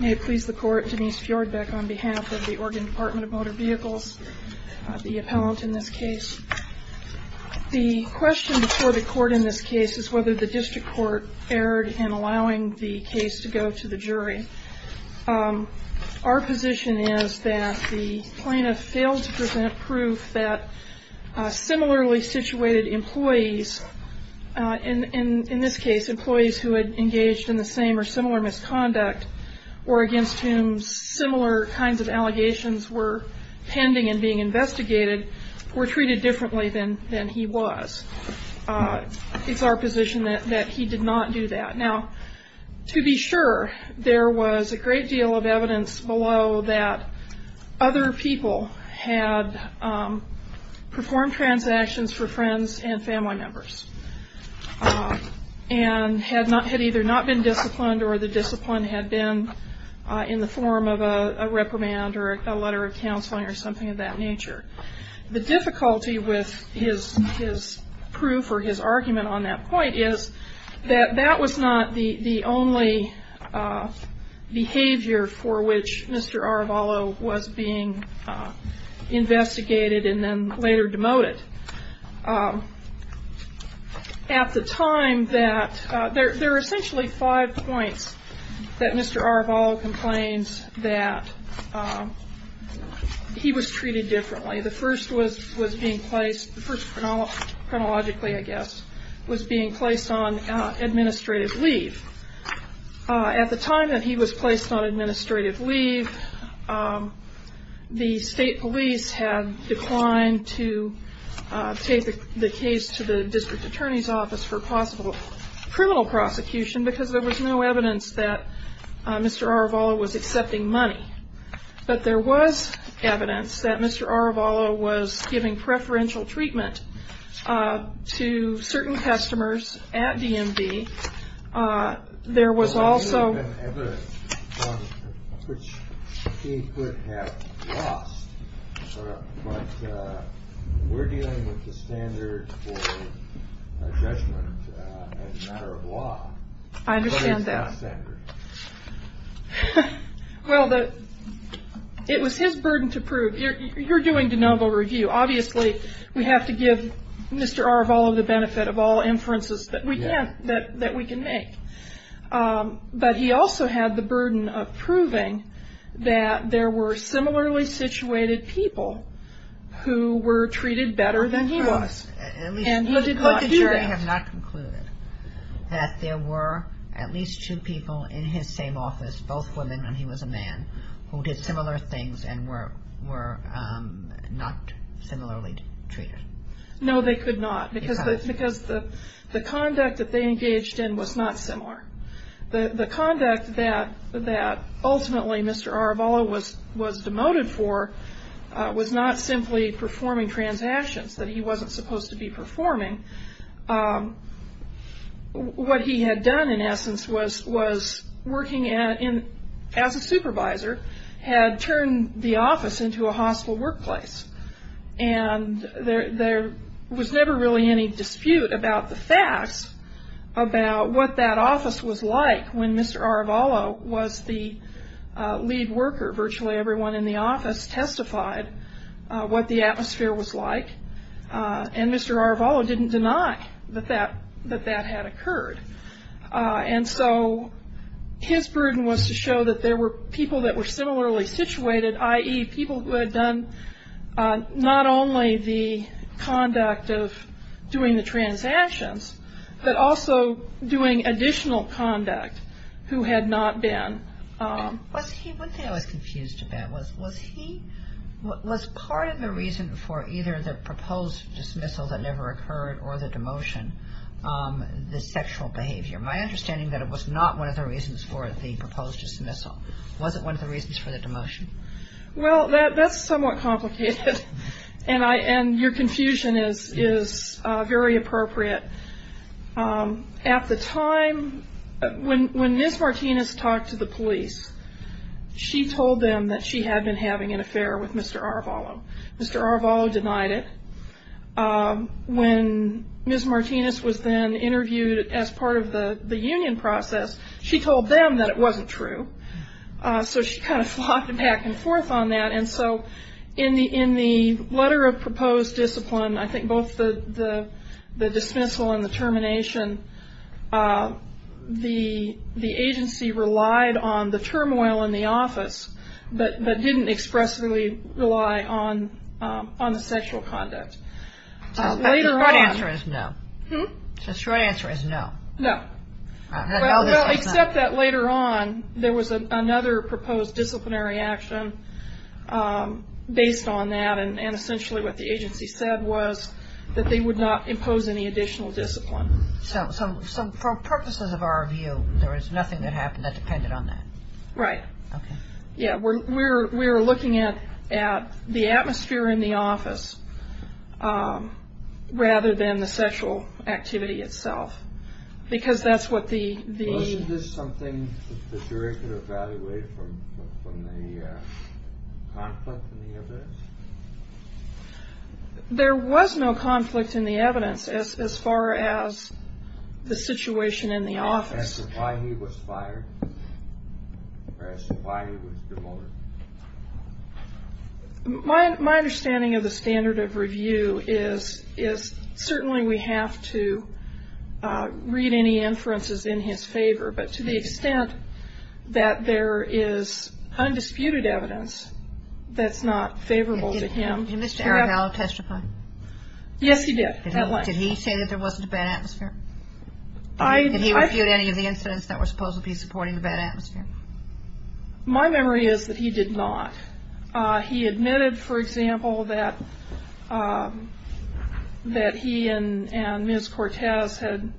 May it please the court, Denise Fjordbeck on behalf of the Oregon Department of Motor Vehicles, the appellant in this case. The question before the court in this case is whether the district court erred in allowing the case to go to the jury. Our position is that the plaintiff failed to present proof that similarly situated employees, in this case employees who had engaged in the same or similar misconduct, or against whom similar kinds of allegations were pending and being investigated, were treated differently than he was. It's our position that he did not do that. Now, to be sure, there was a great deal of evidence below that other people had performed transactions for friends and family members and had either not been disciplined or the discipline had been in the form of a reprimand or a letter of counseling or something of that nature. The difficulty with his proof or his argument on that point is that that was not the only behavior for which Mr. Arevalo was being investigated and then later demoted. There are essentially five points that Mr. Arevalo complains that he was treated differently. The first chronologically, I guess, was being placed on administrative leave. At the time that he was placed on administrative leave, the state police had declined to take the case to the district attorney's office for possible criminal prosecution because there was no evidence that Mr. Arevalo was accepting money. But there was evidence that Mr. Arevalo was giving preferential treatment to certain customers at DMV. There was also evidence which he could have lost, but we're dealing with the standard for judgment as a matter of law. I understand that. Well, it was his burden to prove. You're doing de novo review. Obviously, we have to give Mr. Arevalo the benefit of all inferences that we can make. But he also had the burden of proving that there were similarly situated people who were treated better than he was. And he did not do that. But did your attorney have not concluded that there were at least two people in his same office, both women and he was a man, who did similar things and were not similarly treated? No, they could not because the conduct that they engaged in was not similar. The conduct that ultimately Mr. Arevalo was demoted for was not simply performing transactions, that he wasn't supposed to be performing. What he had done, in essence, was working as a supervisor, had turned the office into a hospital workplace. And there was never really any dispute about the facts about what that office was like when Mr. Arevalo was the lead worker. Virtually everyone in the office testified what the atmosphere was like. And Mr. Arevalo didn't deny that that had occurred. And so his burden was to show that there were people that were similarly situated, i.e., Was part of the reason for either the proposed dismissal that never occurred or the demotion the sexual behavior? My understanding is that it was not one of the reasons for the proposed dismissal. Was it one of the reasons for the demotion? Well, that's somewhat complicated. And your confusion is very appropriate. At the time, when Ms. Martinez talked to the police, she told them that she had been having an affair with Mr. Arevalo. Mr. Arevalo denied it. When Ms. Martinez was then interviewed as part of the union process, she told them that it wasn't true. So she kind of flopped back and forth on that. And so in the letter of proposed discipline, I think both the dismissal and the termination, the agency relied on the turmoil in the office but didn't expressly rely on the sexual conduct. The short answer is no. No. Except that later on, there was another proposed disciplinary action based on that. And essentially what the agency said was that they would not impose any additional discipline. So for purposes of our view, there was nothing that happened that depended on that? Right. Okay. Yeah, we were looking at the atmosphere in the office rather than the sexual activity itself. Because that's what the- Wasn't this something the jury could evaluate from the conflict in the evidence? There was no conflict in the evidence as far as the situation in the office. As to why he was fired? As to why he was demoted? My understanding of the standard of review is certainly we have to read any inferences in his favor. But to the extent that there is undisputed evidence that's not favorable to him- Did Mr. Aragallo testify? Yes, he did. Did he say that there wasn't a bad atmosphere? Did he refute any of the incidents that were supposed to be supporting the bad atmosphere? My memory is that he did not. He admitted, for example, that he and Ms. Cortez had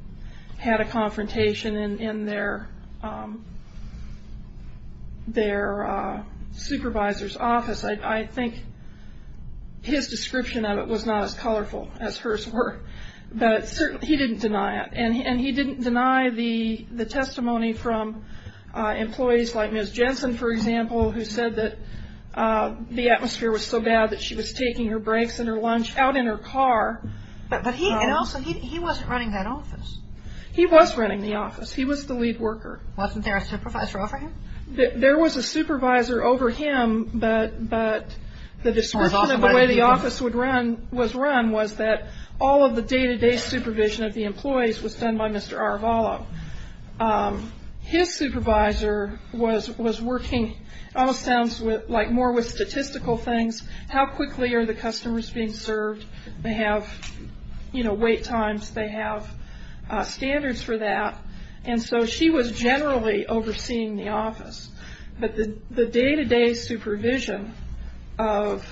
had a confrontation in their supervisor's office. I think his description of it was not as colorful as hers were. But he didn't deny it. I've heard testimony from employees like Ms. Jensen, for example, who said that the atmosphere was so bad that she was taking her breaks and her lunch out in her car. But he wasn't running that office. He was running the office. He was the lead worker. Wasn't there a supervisor over him? There was a supervisor over him. But the description of the way the office was run was that all of the day-to-day supervision of the employees was done by Mr. Aragallo. His supervisor was working, it almost sounds like more with statistical things, how quickly are the customers being served? They have wait times. They have standards for that. And so she was generally overseeing the office. But the day-to-day supervision of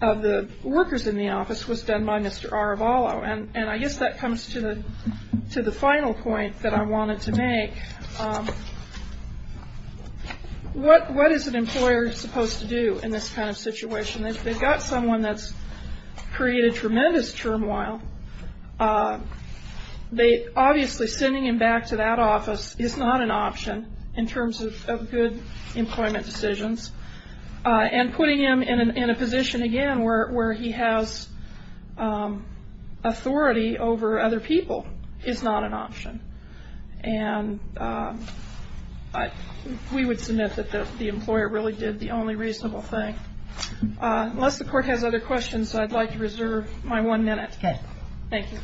the workers in the office was done by Mr. Aragallo. And I guess that comes to the final point that I wanted to make. What is an employer supposed to do in this kind of situation? If they've got someone that's created tremendous turmoil, obviously sending him back to that office is not an option in terms of good employment decisions. And putting him in a position, again, where he has authority over other people is not an option. And we would submit that the employer really did the only reasonable thing. Unless the Court has other questions, I'd like to reserve my one minute. Okay. Thank you.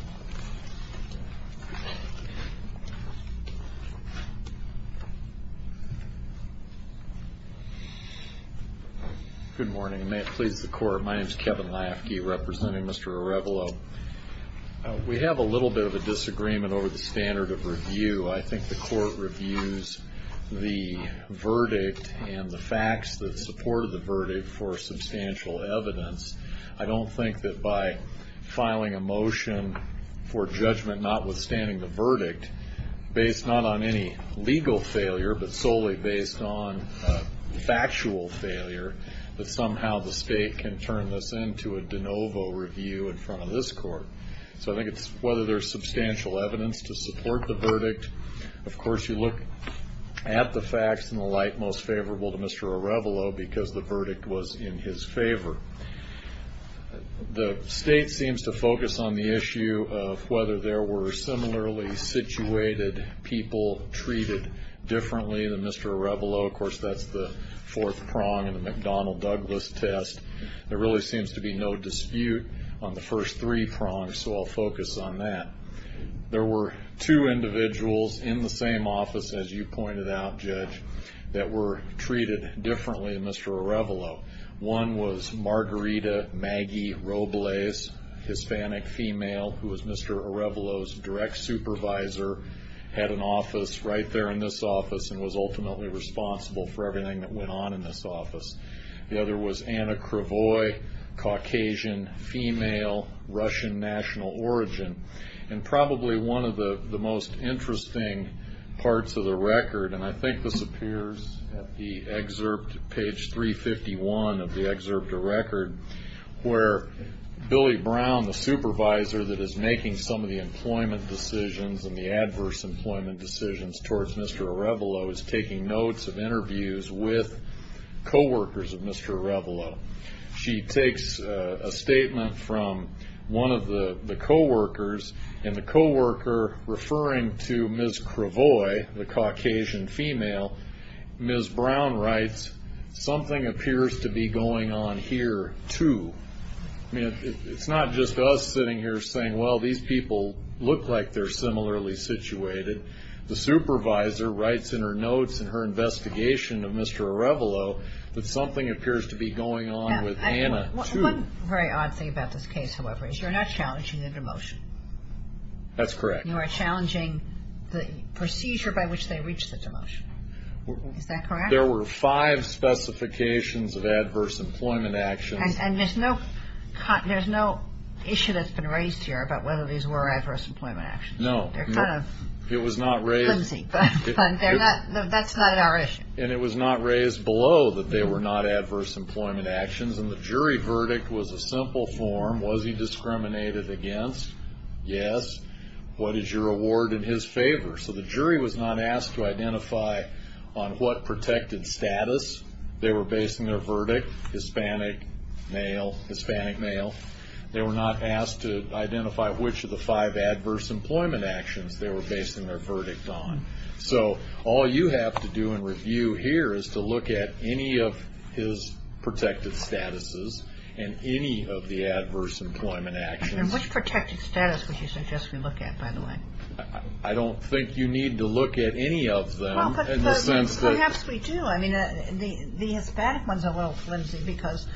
Good morning. May it please the Court, my name is Kevin Lafke representing Mr. Aragallo. We have a little bit of a disagreement over the standard of review. I think the Court reviews the verdict and the facts that supported the verdict for substantial evidence. I don't think that by filing a motion for judgment notwithstanding the verdict, based not on any legal failure but solely based on factual failure, that somehow the State can turn this into a de novo review in front of this Court. So I think it's whether there's substantial evidence to support the verdict. Of course, you look at the facts and the like most favorable to Mr. Aragallo because the verdict was in his favor. The State seems to focus on the issue of whether there were similarly situated people treated differently than Mr. Aragallo. Of course, that's the fourth prong in the McDonnell-Douglas test. There really seems to be no dispute on the first three prongs, so I'll focus on that. There were two individuals in the same office, as you pointed out, Judge, that were treated differently than Mr. Aragallo. One was Margarita Maggie Robles, Hispanic female, who was Mr. Aragallo's direct supervisor, had an office right there in this office, and was ultimately responsible for everything that went on in this office. The other was Anna Cravoy, Caucasian female, Russian national origin, and probably one of the most interesting parts of the record, and I think this appears at the excerpt, page 351 of the excerpt or record, where Billy Brown, the supervisor that is making some of the employment decisions and the adverse employment decisions towards Mr. Aragallo, is taking notes of interviews with co-workers of Mr. Aragallo. She takes a statement from one of the co-workers, and the co-worker referring to Ms. Cravoy, the Caucasian female, Ms. Brown writes, something appears to be going on here, too. It's not just us sitting here saying, well, these people look like they're similarly situated. The supervisor writes in her notes and her investigation of Mr. Aragallo that something appears to be going on with Anna, too. One very odd thing about this case, however, is you're not challenging the demotion. That's correct. You are challenging the procedure by which they reached the demotion. Is that correct? There were five specifications of adverse employment actions. And there's no issue that's been raised here about whether these were adverse employment actions. No. They're kind of flimsy, but that's not our issue. And it was not raised below that they were not adverse employment actions, and the jury verdict was a simple form. Was he discriminated against? Yes. What is your award in his favor? So the jury was not asked to identify on what protected status they were basing their verdict, Hispanic male, Hispanic male. They were not asked to identify which of the five adverse employment actions they were basing their verdict on. So all you have to do in review here is to look at any of his protected statuses and any of the adverse employment actions. And which protected status would you suggest we look at, by the way? I don't think you need to look at any of them. Well, but perhaps we do. The Hispanic one's a little flimsy because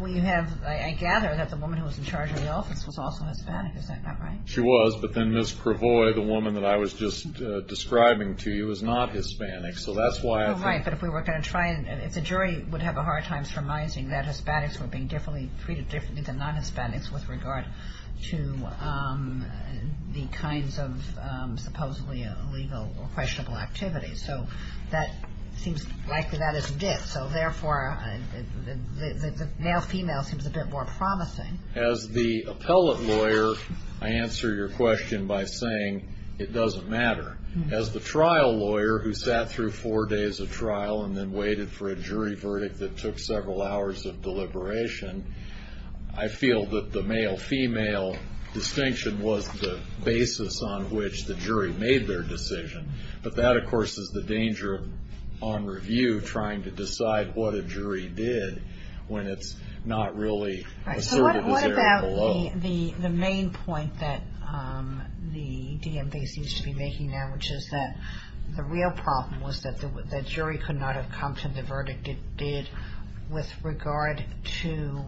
we have ‑‑ I gather that the woman who was in charge of the office was also Hispanic. Is that not right? She was. But then Ms. Cravoy, the woman that I was just describing to you, was not Hispanic. So that's why I think ‑‑ Right. But if we were going to try and ‑‑ if the jury would have a hard time surmising that Hispanics were being treated differently than non-Hispanics with regard to the kinds of supposedly illegal or questionable activities. So that seems likely that is a dip. So, therefore, the male‑female seems a bit more promising. As the appellate lawyer, I answer your question by saying it doesn't matter. As the trial lawyer who sat through four days of trial and then waited for a jury verdict that took several hours of deliberation, I feel that the male‑female distinction was the basis on which the jury made their decision. But that, of course, is the danger on review, trying to decide what a jury did when it's not really a certain area below. Right. So what about the main point that the DMV seems to be making now, which is that the real problem was that the jury could not have come to the verdict it did with regard to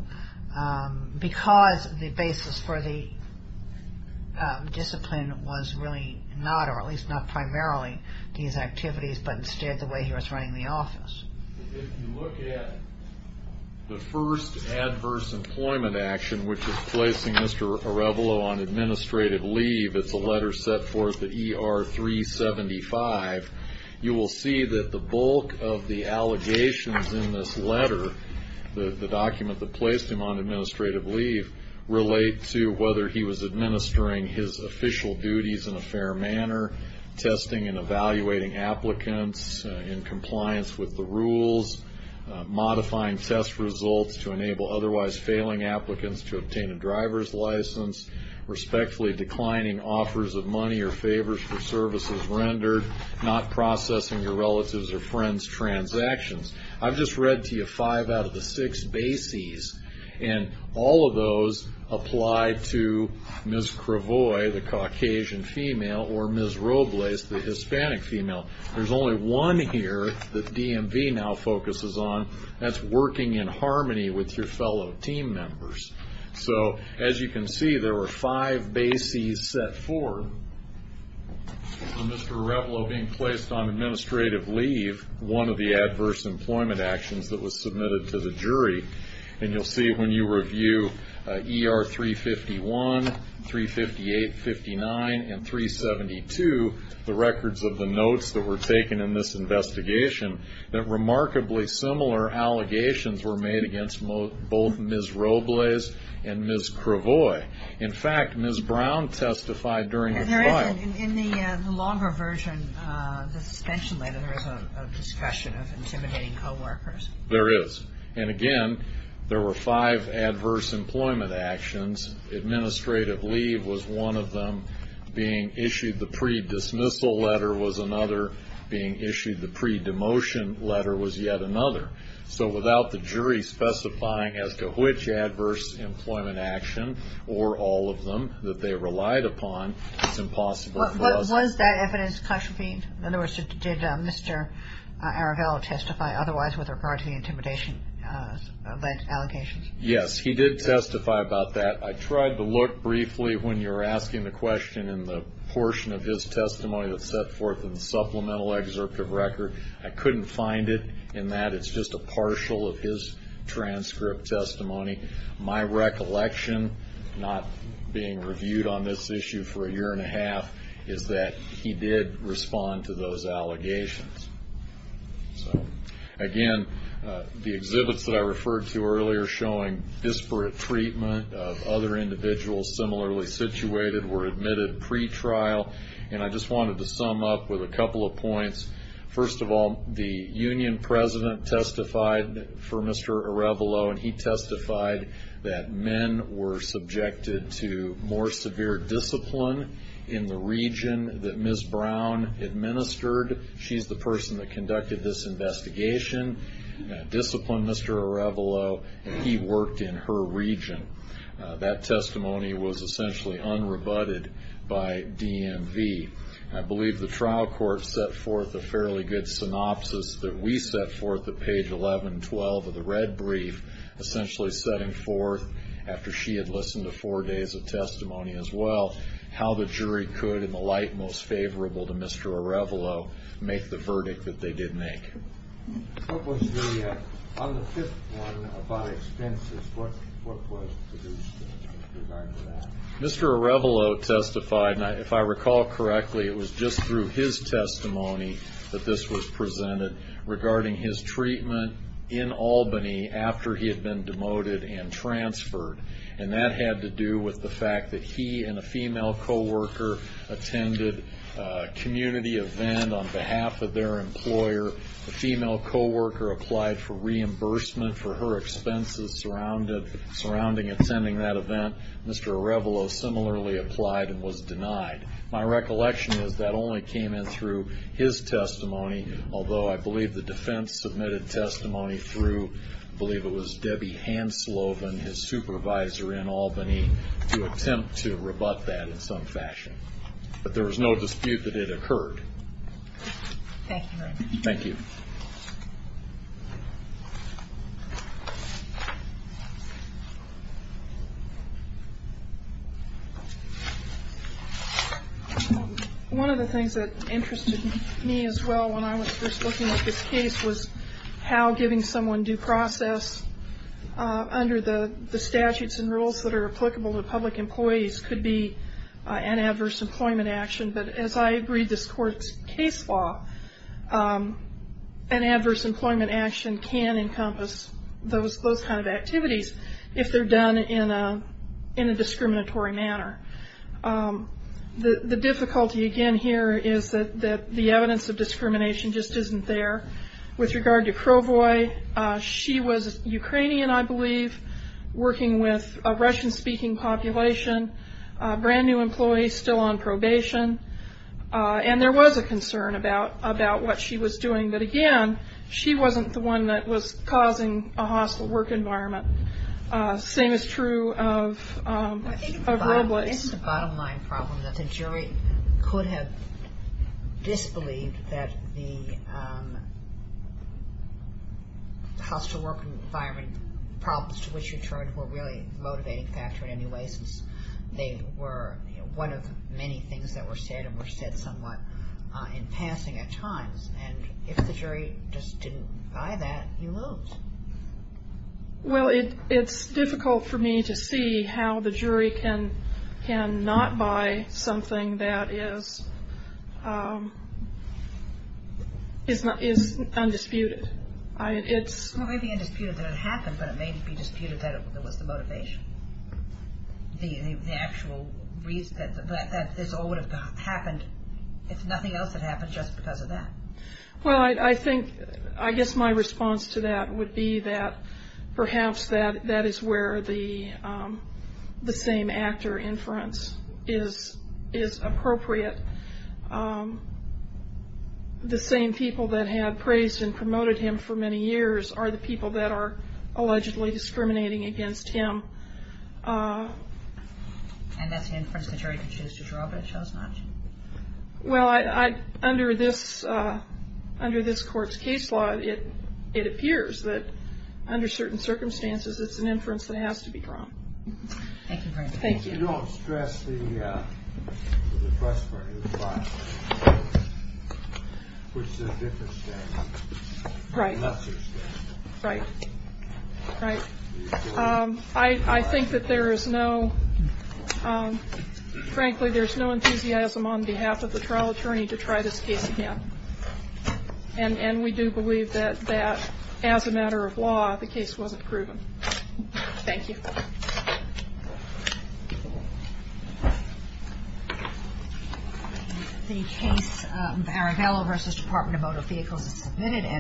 ‑‑ Because the basis for the discipline was really not, or at least not primarily these activities, but instead the way he was running the office. If you look at the first adverse employment action, which is placing Mr. Arevalo on administrative leave, it's a letter set forth at ER 375, you will see that the bulk of the allegations in this letter, the document that placed him on administrative leave, relate to whether he was administering his official duties in a fair manner, testing and evaluating applicants in compliance with the rules, modifying test results to enable otherwise failing applicants to obtain a driver's license, respectfully declining offers of money or favors for services rendered, not processing your relatives' or friends' transactions. I've just read to you five out of the six bases, and all of those apply to Ms. Cravois, the Caucasian female, or Ms. Robles, the Hispanic female. There's only one here that DMV now focuses on, and that's working in harmony with your fellow team members. So as you can see, there were five bases set forth. Mr. Arevalo being placed on administrative leave, one of the adverse employment actions that was submitted to the jury, and you'll see when you review ER 351, 358, 59, and 372, the records of the notes that were taken in this investigation, that remarkably similar allegations were made against both Ms. Robles and Ms. Cravois. In fact, Ms. Brown testified during the trial. And there is, in the longer version, the suspension letter, there is a discussion of intimidating coworkers. There is. And again, there were five adverse employment actions. Administrative leave was one of them. Being issued the pre-dismissal letter was another. Being issued the pre-demotion letter was yet another. So without the jury specifying as to which adverse employment action or all of them that they relied upon, it's impossible for us. Was that evidence contravened? In other words, did Mr. Arevalo testify otherwise with regard to the intimidation allegations? Yes, he did testify about that. I tried to look briefly when you were asking the question in the portion of his testimony that's set forth in the supplemental excerpt of record. I couldn't find it in that. It's just a partial of his transcript testimony. My recollection, not being reviewed on this issue for a year and a half, is that he did respond to those allegations. Again, the exhibits that I referred to earlier showing disparate treatment of other individuals similarly situated were admitted pre-trial. And I just wanted to sum up with a couple of points. First of all, the union president testified for Mr. Arevalo, and he testified that men were subjected to more severe discipline in the region that Ms. Brown administered. She's the person that conducted this investigation, disciplined Mr. Arevalo. He worked in her region. That testimony was essentially unrebutted by DMV. I believe the trial court set forth a fairly good synopsis that we set forth at page 11-12 of the red brief, essentially setting forth, after she had listened to four days of testimony as well, how the jury could, in the light most favorable to Mr. Arevalo, make the verdict that they did make. On the fifth one about expenses, what was produced in regard to that? Mr. Arevalo testified, and if I recall correctly, it was just through his testimony that this was presented, regarding his treatment in Albany after he had been demoted and transferred. And that had to do with the fact that he and a female co-worker attended a community event on behalf of their employer. The female co-worker applied for reimbursement for her expenses surrounding attending that event. Mr. Arevalo similarly applied and was denied. My recollection is that only came in through his testimony, although I believe the defense submitted testimony through, I believe it was Debbie Hansloven, his supervisor in Albany, to attempt to rebut that in some fashion. But there was no dispute that it occurred. Thank you. One of the things that interested me as well when I was first looking at this case was how giving someone due process under the statutes and rules that are applicable to public employees could be an adverse employment action. But as I agreed this court's case law, an adverse employment action can encompass those kind of activities if they're done in a discriminatory manner. The difficulty again here is that the evidence of discrimination just isn't there. With regard to Crowboy, she was Ukrainian, I believe, working with a Russian-speaking population, brand-new employees still on probation, and there was a concern about what she was doing. But again, she wasn't the one that was causing a hostile work environment. The same is true of Robles. I think the bottom line problem is that the jury could have disbelieved that the hostile work environment problems to which she turned were really a motivating factor in any way, since they were one of many things that were said and were said somewhat in passing at times. And if the jury just didn't buy that, you lose. Well, it's difficult for me to see how the jury can not buy something that is undisputed. Well, it may be undisputed that it happened, but it may be disputed that it was the motivation, the actual reason that this all would have happened if nothing else had happened just because of that. Well, I guess my response to that would be that perhaps that is where the same actor inference is appropriate. The same people that have praised and promoted him for many years are the people that are allegedly discriminating against him. And that's the inference the jury could choose to draw, but it chose not to. Well, under this court's case law, it appears that under certain circumstances, it's an inference that has to be drawn. Thank you, Your Honor. Thank you. You don't stress the first part of the trial, which is a different state. Right. Not such a state. Right. Right. I think that there is no, frankly, there's no enthusiasm on behalf of the trial attorney to try this case again. And we do believe that as a matter of law, the case wasn't proven. Thank you.